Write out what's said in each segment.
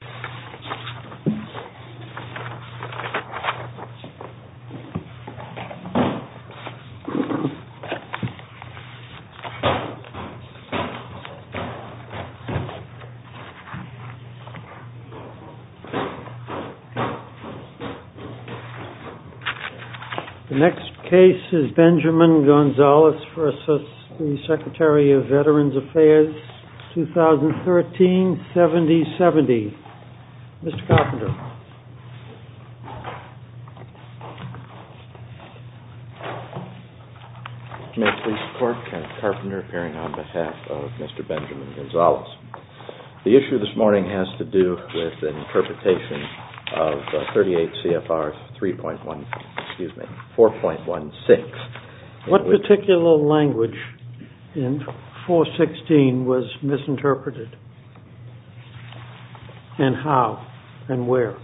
The next case is Benjamin Gonzalez v. Secretary of Veterans Affairs 2013-7070. Mr. Carpenter. May I please report, Kent Carpenter appearing on behalf of Mr. Benjamin Gonzalez. The issue this morning has to do with the interpretation of 38 CFR 3.1, excuse me, 4.16. What particular language in 4.16 was misinterpreted and how and where?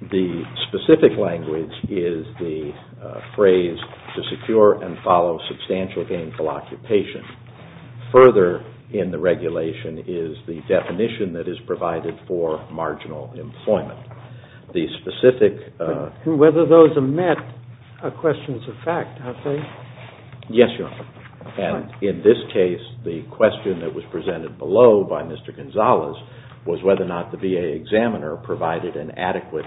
The specific language is the phrase to secure and follow substantial gainful occupation. Further in the regulation is the definition that is provided for marginal employment. Whether those are met are questions of fact, aren't they? Yes, Your Honor. And in this case, the question that was presented below by Mr. Gonzalez was whether or not the VA examiner provided an adequate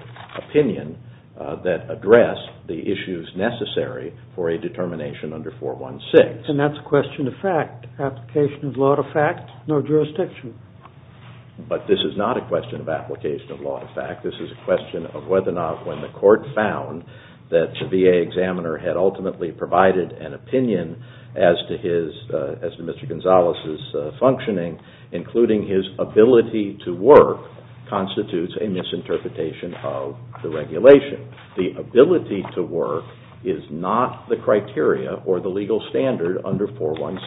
opinion that addressed the issues necessary for a determination under 4.16. And that's a question of fact. Application of law to fact, no jurisdiction. But this is not a question of application of law to fact. This is a question of whether or not when the court found that the VA examiner had ultimately provided an opinion as to Mr. Gonzalez' functioning, including his ability to work, constitutes a misinterpretation of the regulation. If the ability to work is not the criteria or the legal standard under 4.16,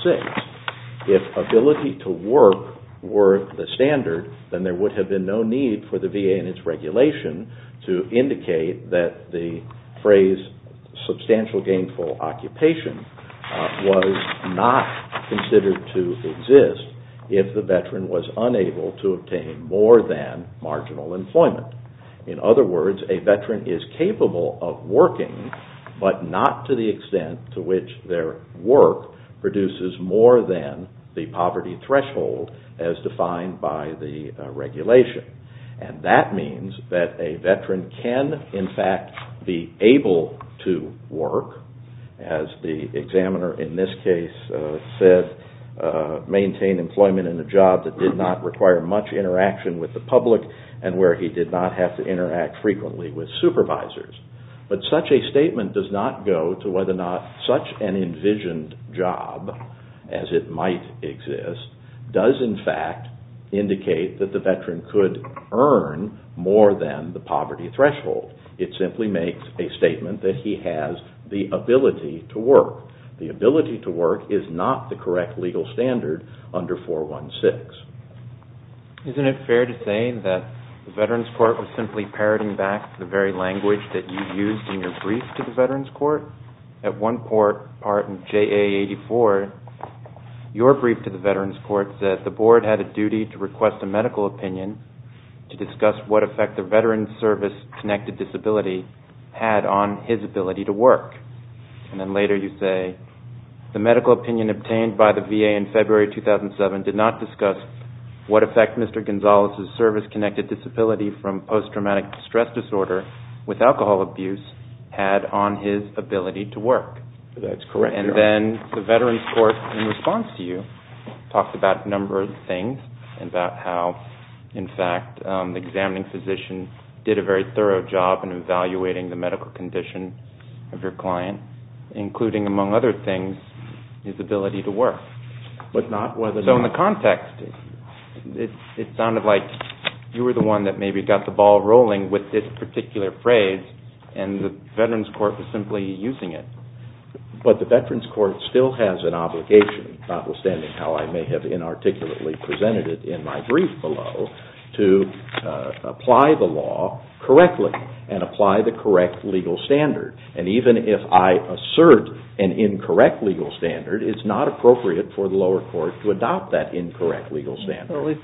if ability to work were the standard, then there would have been no need for the VA and its regulation to indicate that the phrase substantial gainful occupation was not considered to exist if the veteran was unable to obtain more than marginal employment. In other words, a veteran is capable of working, but not to the extent to which their work produces more than the poverty threshold as defined by the regulation. And that means that a veteran can, in fact, be able to work, as the examiner in this case said, maintain employment in a job that did not require much interaction with the public and where he did not have to interact frequently with supervisors. But such a statement does not go to whether or not such an envisioned job as it might exist does, in fact, indicate that the veteran could earn more than the poverty threshold. It simply makes a statement that he has the ability to work. The ability to work is not the correct legal standard under 4.16. Isn't it fair to say that the Veterans Court was simply parroting back the very language that you used in your brief to the Veterans Court? At one court, part of JA 84, your brief to the Veterans Court said the board had a duty to request a medical opinion to discuss what effect the veteran's service-connected disability had on his ability to work. And then later you say, the medical opinion obtained by the VA in February 2007 did not discuss what effect Mr. Gonzalez's service-connected disability from post-traumatic stress disorder with alcohol abuse had on his ability to work. So in the context, it sounded like you were the one that maybe got the ball rolling with this particular phrase and the Veterans Court was simply using it. But the Veterans Court still has an obligation, notwithstanding how I may have inarticulately presented it in my brief below, to apply the law correctly and apply the correct legal standard. And even if I assert an incorrect legal standard, it's not appropriate for the lower court to adopt that incorrect legal standard.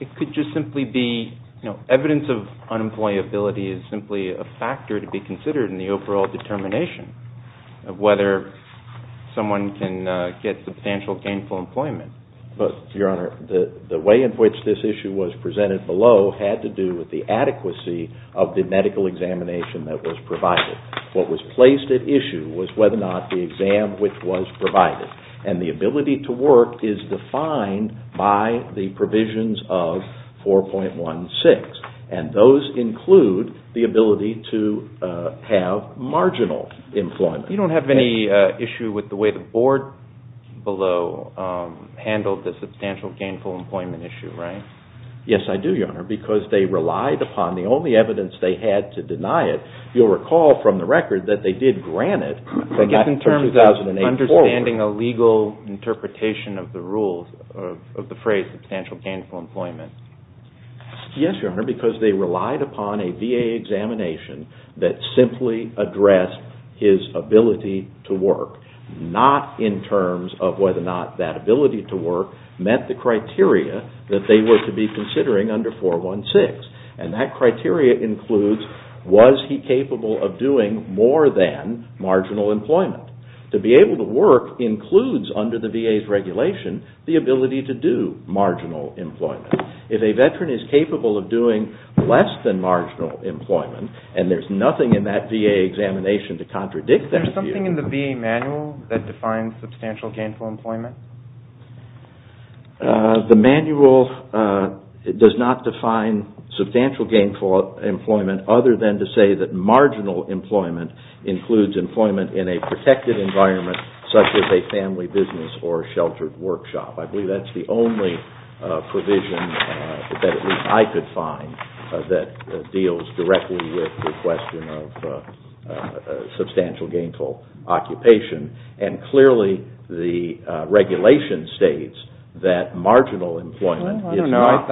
It could just simply be evidence of unemployability is simply a factor to be considered in the overall determination of whether someone can get substantial gainful employment. Your Honor, the way in which this issue was presented below had to do with the adequacy of the medical examination that was provided. What was placed at issue was whether or not the exam which was provided. And the ability to work is defined by the provisions of 4.16. And those include the ability to have marginal employment. You don't have any issue with the way the board below handled the substantial gainful employment issue, right? Yes, I do, Your Honor, because they relied upon the only evidence they had to deny it. You'll recall from the record that they did grant it. I guess in terms of understanding a legal interpretation of the rule, of the phrase substantial gainful employment. Yes, Your Honor, because they relied upon a VA examination that simply addressed his ability to work. Not in terms of whether or not that ability to work met the criteria that they were to be considering under 4.16. And that criteria includes was he capable of doing more than marginal employment. To be able to work includes under the VA's regulation the ability to do marginal employment. If a veteran is capable of doing less than marginal employment and there's nothing in that VA examination to contradict that view. Is there something in the VA manual that defines substantial gainful employment? The manual does not define substantial gainful employment other than to say that marginal employment includes employment in a protected environment such as a family business or a sheltered workshop. I believe that's the only provision that at least I could find that deals directly with the question of substantial gainful occupation. And clearly the regulation states that marginal employment is not.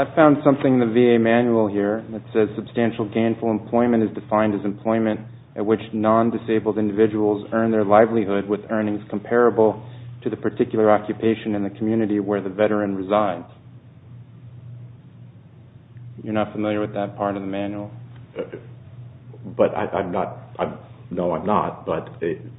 to the particular occupation in the community where the veteran resides. You're not familiar with that part of the manual? No, I'm not, but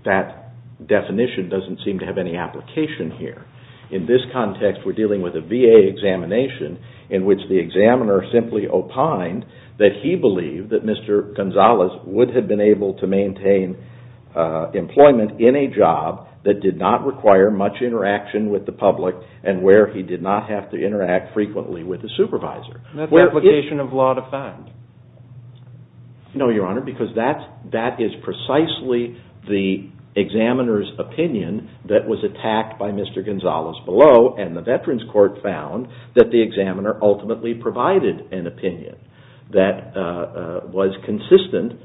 that definition doesn't seem to have any application here. In this context we're dealing with a VA examination in which the examiner simply opined that he believed that Mr. Gonzales would have been able to maintain employment in a job that did not require much interaction with the public and where he did not have to interact frequently with the supervisor. Is that an application of law to find? No, Your Honor, because that is precisely the examiner's opinion that was attacked by Mr. Gonzales below and the Veterans Court found that the examiner ultimately provided an opinion that was consistent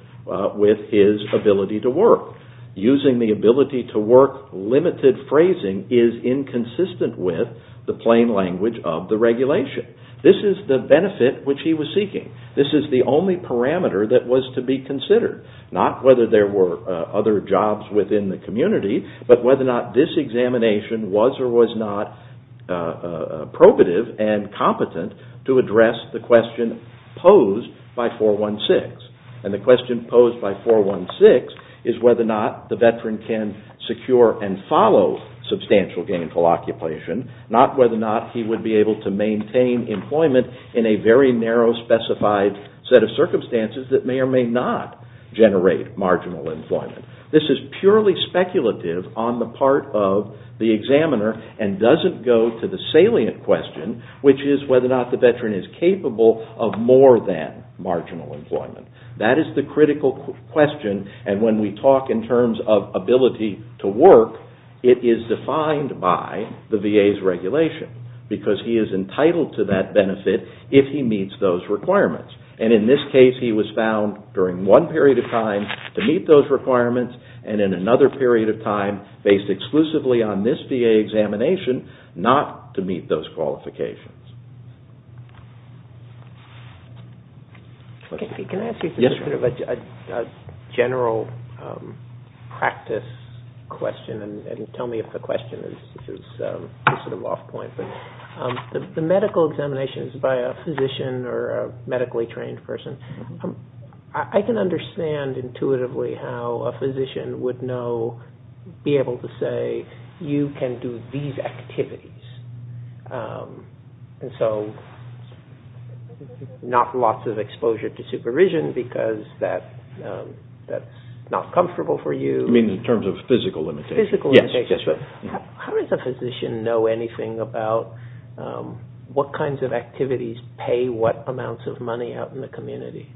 with his ability to work. Using the ability to work limited phrasing is inconsistent with the plain language of the regulation. This is the benefit which he was seeking. This is the only parameter that was to be considered, not whether there were other jobs within the community, but whether or not this examination was or was not probative and competent to address the question posed by 416. And the question posed by 416 is whether or not the veteran can secure and follow substantial gainful occupation, not whether or not he would be able to maintain employment in a very narrow specified set of circumstances that may or may not generate marginal employment. This is purely speculative on the part of the examiner and does not go to the salient question, which is whether or not the veteran is capable of more than marginal employment. That is the critical question and when we talk in terms of ability to work, it is defined by the VA's regulation because he is entitled to that benefit if he meets those requirements. And in this case, he was found during one period of time to meet those requirements and in another period of time, based exclusively on this VA examination, not to meet those qualifications. Can I ask you a general practice question and tell me if the question is off point? The medical examinations by a physician or medically trained person, I can understand intuitively how a physician would know, be able to say, you can do these activities. And so not lots of exposure to supervision because that is not comfortable for you. You mean in terms of physical limitations? Yes. How does a physician know anything about what kinds of activities pay what amounts of money out in the community?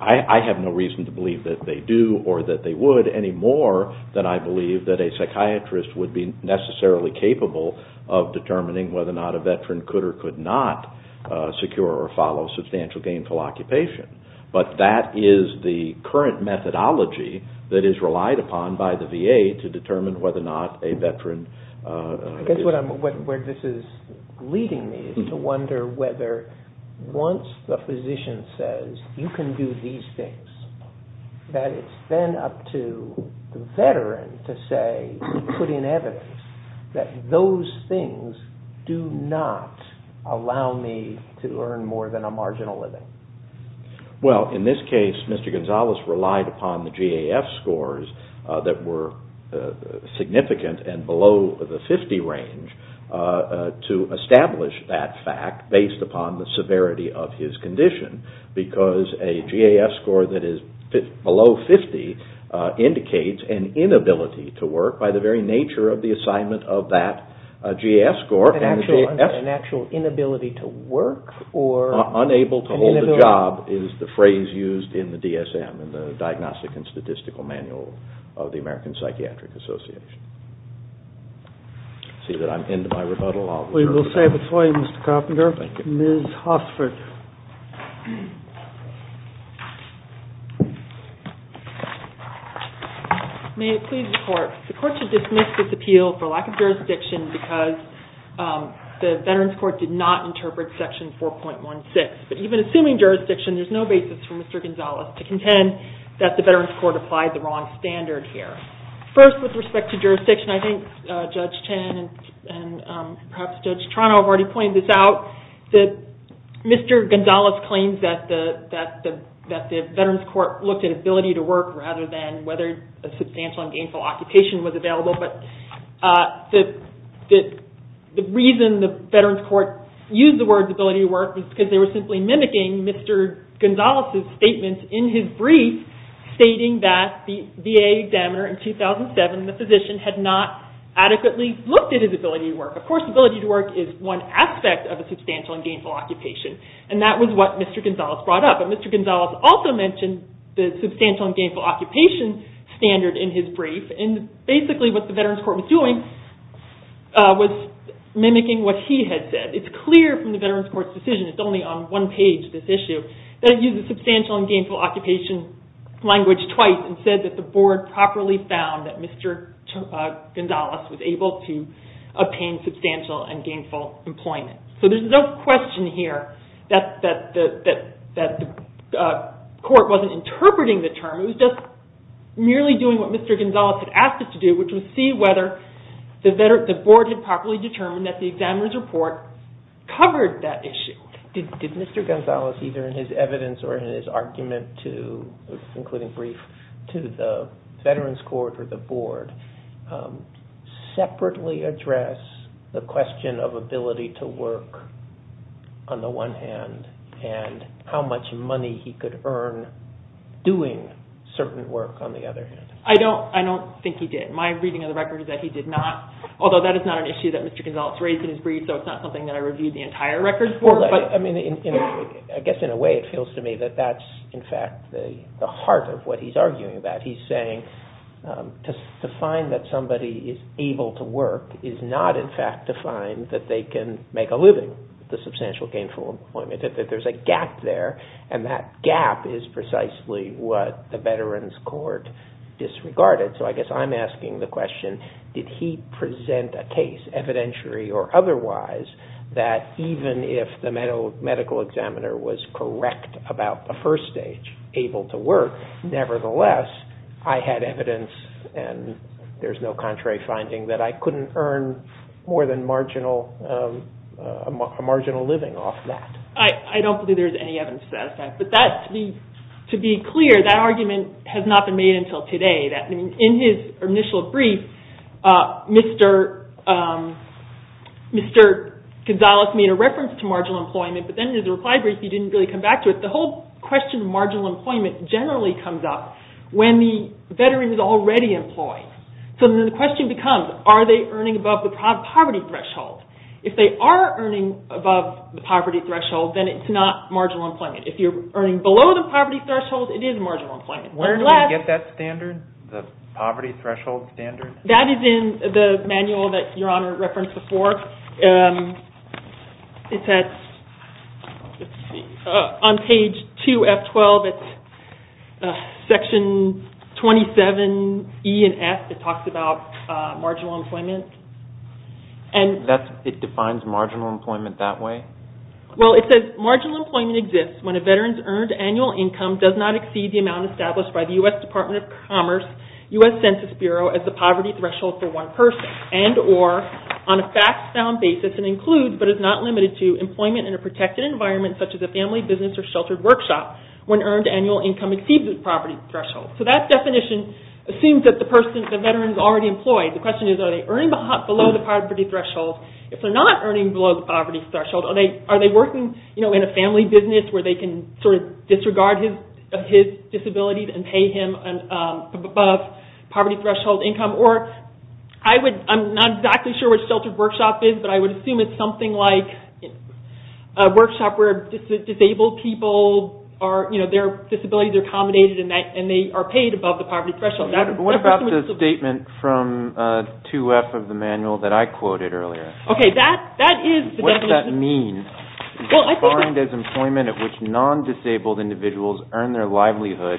I have no reason to believe that they do or that they would any more than I believe that a psychiatrist would be necessarily capable of determining whether or not a veteran could or could not secure or follow substantial gainful occupation. But that is the current methodology that is relied upon by the VA to determine whether or not a veteran... I guess where this is leading me is to wonder whether once the physician says, you can do these things, that it's then up to the veteran to say, put in evidence that those things do not allow me to earn more than a marginal living. Well, in this case, Mr. Gonzalez relied upon the GAF scores that were significant and below the 50 range to establish that fact based upon the severity of his condition. Because a GAF score that is below 50 indicates an inability to work by the very nature of the assignment of that GAF score. An actual inability to work or... Unable to hold a job is the phrase used in the DSM, in the Diagnostic and Statistical Manual of the American Psychiatric Association. I see that I'm into my rebuttal. We will save it for you, Mr. Carpenter. Thank you. Ms. Hossford. May it please the Court. The Court should dismiss this appeal for lack of jurisdiction because the Veterans Court did not interpret Section 4.16. But even assuming jurisdiction, there's no basis for Mr. Gonzalez to contend that the Veterans Court applied the wrong standard here. First, with respect to jurisdiction, I think Judge Chen and perhaps Judge Trano have already pointed this out. Mr. Gonzalez claims that the Veterans Court looked at ability to work rather than whether a substantial and gainful occupation was available. But the reason the Veterans Court used the words ability to work was because they were simply mimicking Mr. Gonzalez's statement in his brief, stating that the VA examiner in 2007, the physician, had not adequately looked at his ability to work. Of course, ability to work is one aspect of a substantial and gainful occupation. And that was what Mr. Gonzalez brought up. But Mr. Gonzalez also mentioned the substantial and gainful occupation standard in his brief. And basically what the Veterans Court was doing was mimicking what he had said. It's clear from the Veterans Court's decision, it's only on one page, this issue, that it used the substantial and gainful occupation language twice and said that the board properly found that Mr. Gonzalez was able to obtain substantial and gainful employment. So there's no question here that the court wasn't interpreting the term. It was just merely doing what Mr. Gonzalez had asked it to do, which was see whether the board had properly determined that the examiner's report covered that issue. Did Mr. Gonzalez, either in his evidence or in his argument, including brief, to the Veterans Court or the board separately address the question of ability to work on the one hand and how much money he could earn doing certain work on the other hand? I don't think he did. My reading of the record is that he did not. Although that is not an issue that Mr. Gonzalez raised in his brief, so it's not something that I reviewed the entire record for. I guess in a way it feels to me that that's in fact the heart of what he's arguing about. He's saying to find that somebody is able to work is not in fact to find that they can make a living with the substantial gainful employment, that there's a gap there, and that gap is precisely what the Veterans Court disregarded. So I guess I'm asking the question, did he present a case, evidentiary or otherwise, that even if the medical examiner was correct about the first stage, able to work, nevertheless I had evidence and there's no contrary finding that I couldn't earn more than a marginal living off that. I don't believe there's any evidence to that effect. But to be clear, that argument has not been made until today. In his initial brief, Mr. Gonzalez made a reference to marginal employment, but then in his reply brief he didn't really come back to it. The whole question of marginal employment generally comes up when the Veteran is already employed. So then the question becomes, are they earning above the poverty threshold? If they are earning above the poverty threshold, then it's not marginal employment. If you're earning below the poverty threshold, it is marginal employment. Where do we get that standard, the poverty threshold standard? That is in the manual that Your Honor referenced before. It's on page 2F12, it's section 27E and F, it talks about marginal employment. It defines marginal employment that way? Well, it says marginal employment exists when a Veteran's earned annual income does not exceed the amount established by the U.S. Department of Commerce, U.S. Census Bureau as the poverty threshold for one person and or on a fact-found basis and includes but is not limited to employment in a protected environment such as a family business or sheltered workshop when earned annual income exceeds the poverty threshold. So that definition assumes that the Veteran is already employed. The question is, are they earning below the poverty threshold? If they're not earning below the poverty threshold, are they working in a family business where they can sort of disregard his disabilities and pay him above poverty threshold income? Or I'm not exactly sure what sheltered workshop is, but I would assume it's something like a workshop where disabled people, their disabilities are accommodated and they are paid above the poverty threshold. What about the statement from 2F of the manual that I quoted earlier? Okay, that is the definition. What does that mean? It's defined as employment at which non-disabled individuals earn their livelihood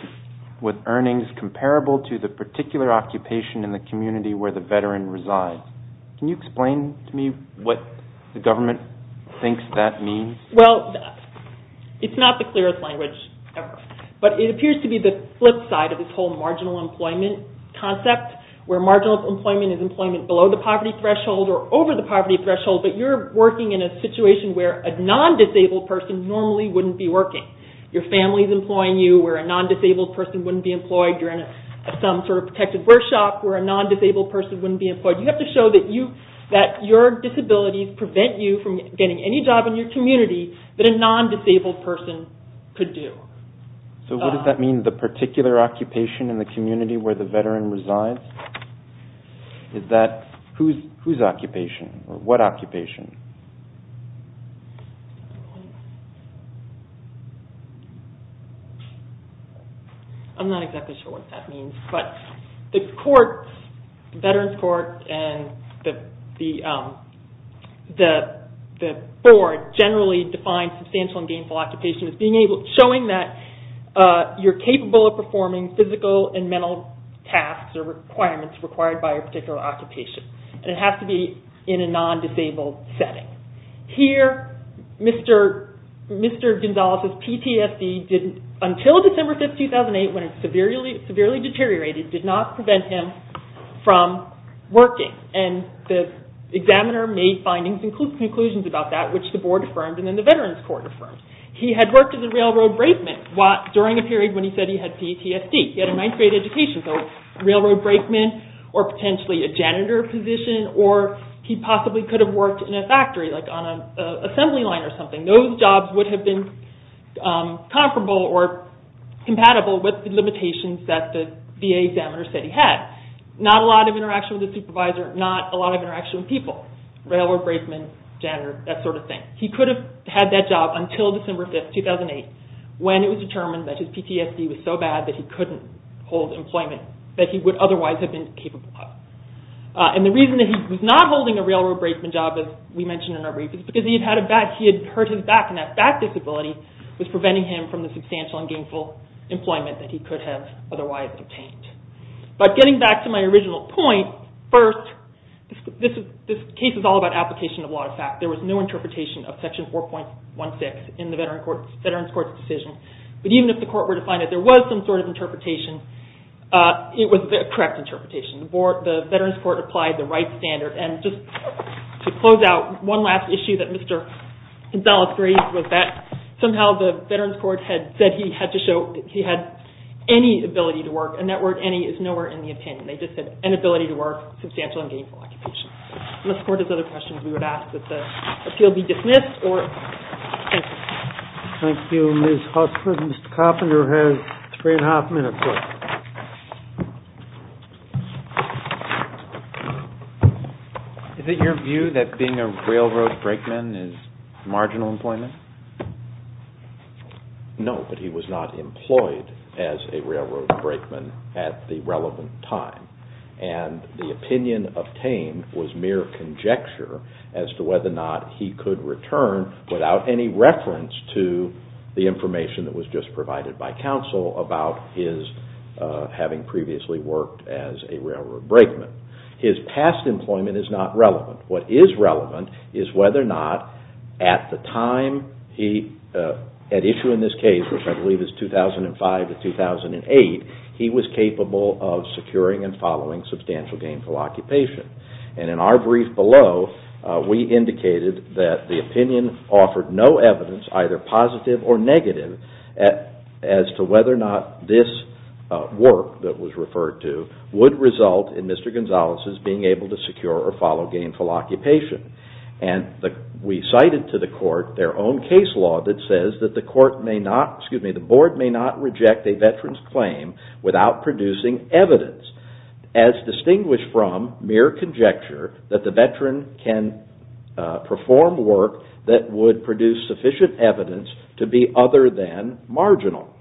with earnings comparable to the particular occupation in the community where the Veteran resides. Can you explain to me what the government thinks that means? Well, it's not the clearest language ever, but it appears to be the flip side of this whole employment concept where marginal employment is employment below the poverty threshold or over the poverty threshold, but you're working in a situation where a non-disabled person normally wouldn't be working. Your family is employing you where a non-disabled person wouldn't be employed. You're in some sort of protected workshop where a non-disabled person wouldn't be employed. You have to show that your disabilities prevent you from getting any job in your community that a non-disabled person could do. So what does that mean? The particular occupation in the community where the Veteran resides? Whose occupation or what occupation? I'm not exactly sure what that means, but the Veterans Court and the Board generally define substantial and gainful occupation as showing that you're capable of performing physical and mental tasks or requirements required by a particular occupation, and it has to be in a non-disabled setting. Here, Mr. Gonzalez's PTSD, until December 5, 2008, when it severely deteriorated, did not prevent him from working, and the examiner made findings and conclusions about that, which the Board affirmed and then the Veterans Court affirmed. He had worked as a railroad brakeman during a period when he said he had PTSD. He had a ninth grade education, so railroad brakeman or potentially a janitor position, or he possibly could have worked in a factory, like on an assembly line or something. Those jobs would have been comparable or compatible with the limitations that the VA examiner said he had. Not a lot of interaction with the supervisor, not a lot of interaction with people, railroad brakeman, janitor, that sort of thing. He could have had that job until December 5, 2008, when it was determined that his PTSD was so bad that he couldn't hold employment that he would otherwise have been capable of. And the reason that he was not holding a railroad brakeman job, as we mentioned in our brief, is because he had hurt his back, and that back disability was preventing him from the substantial and gainful employment that he could have otherwise obtained. But getting back to my original point, first, this case is all about application of law of fact. There was no interpretation of Section 4.16 in the Veterans Court's decision. But even if the Court were to find that there was some sort of interpretation, it was a correct interpretation. The Veterans Court applied the right standard. And just to close out, one last issue that Mr. Gonzalez raised was that somehow the Veterans Court had the ability to work. And that word, any, is nowhere in the opinion. They just said, an ability to work, substantial and gainful occupation. Unless the Court has other questions, we would ask that the appeal be dismissed. Thank you. Thank you, Ms. Huffman. Mr. Carpenter has three and a half minutes left. Is it your view that being a railroad brakeman is marginal employment? No, but he was not employed as a railroad brakeman at the relevant time. And the opinion obtained was mere conjecture as to whether or not he could return without any reference to the information that was just provided by counsel about his having previously worked as a railroad brakeman. His past employment is not relevant. What is relevant is whether or not at the time, at issue in this case, which I believe is 2005 to 2008, he was capable of securing and following substantial gainful occupation. And in our brief below, we indicated that the opinion offered no evidence, either positive or negative, as to whether or not this work that was referred to would result in Mr. Carpenter's gainful occupation. And we cited to the Court their own case law that says that the Board may not reject a veteran's claim without producing evidence, as distinguished from mere conjecture that the veteran can perform work that would produce sufficient evidence to be other than marginal.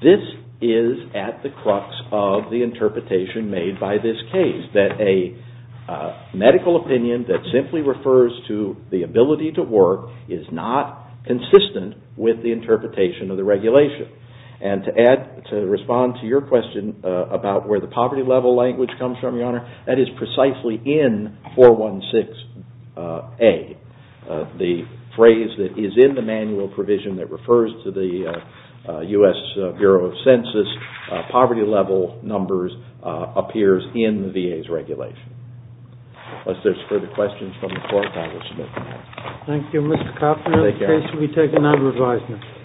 This is at the crux of the interpretation made by this case, that a medical opinion that simply refers to the ability to work is not consistent with the interpretation of the regulation. And to respond to your question about where the poverty level language comes from, Your Honor, that is precisely in 416A, the phrase that is in the manual provision that refers to the U.S. Bureau of Census, poverty level numbers appears in the VA's regulation. Unless there are further questions from the Court, I will submit them now. Thank you, Mr. Carpenter. The case will be taken under advisement.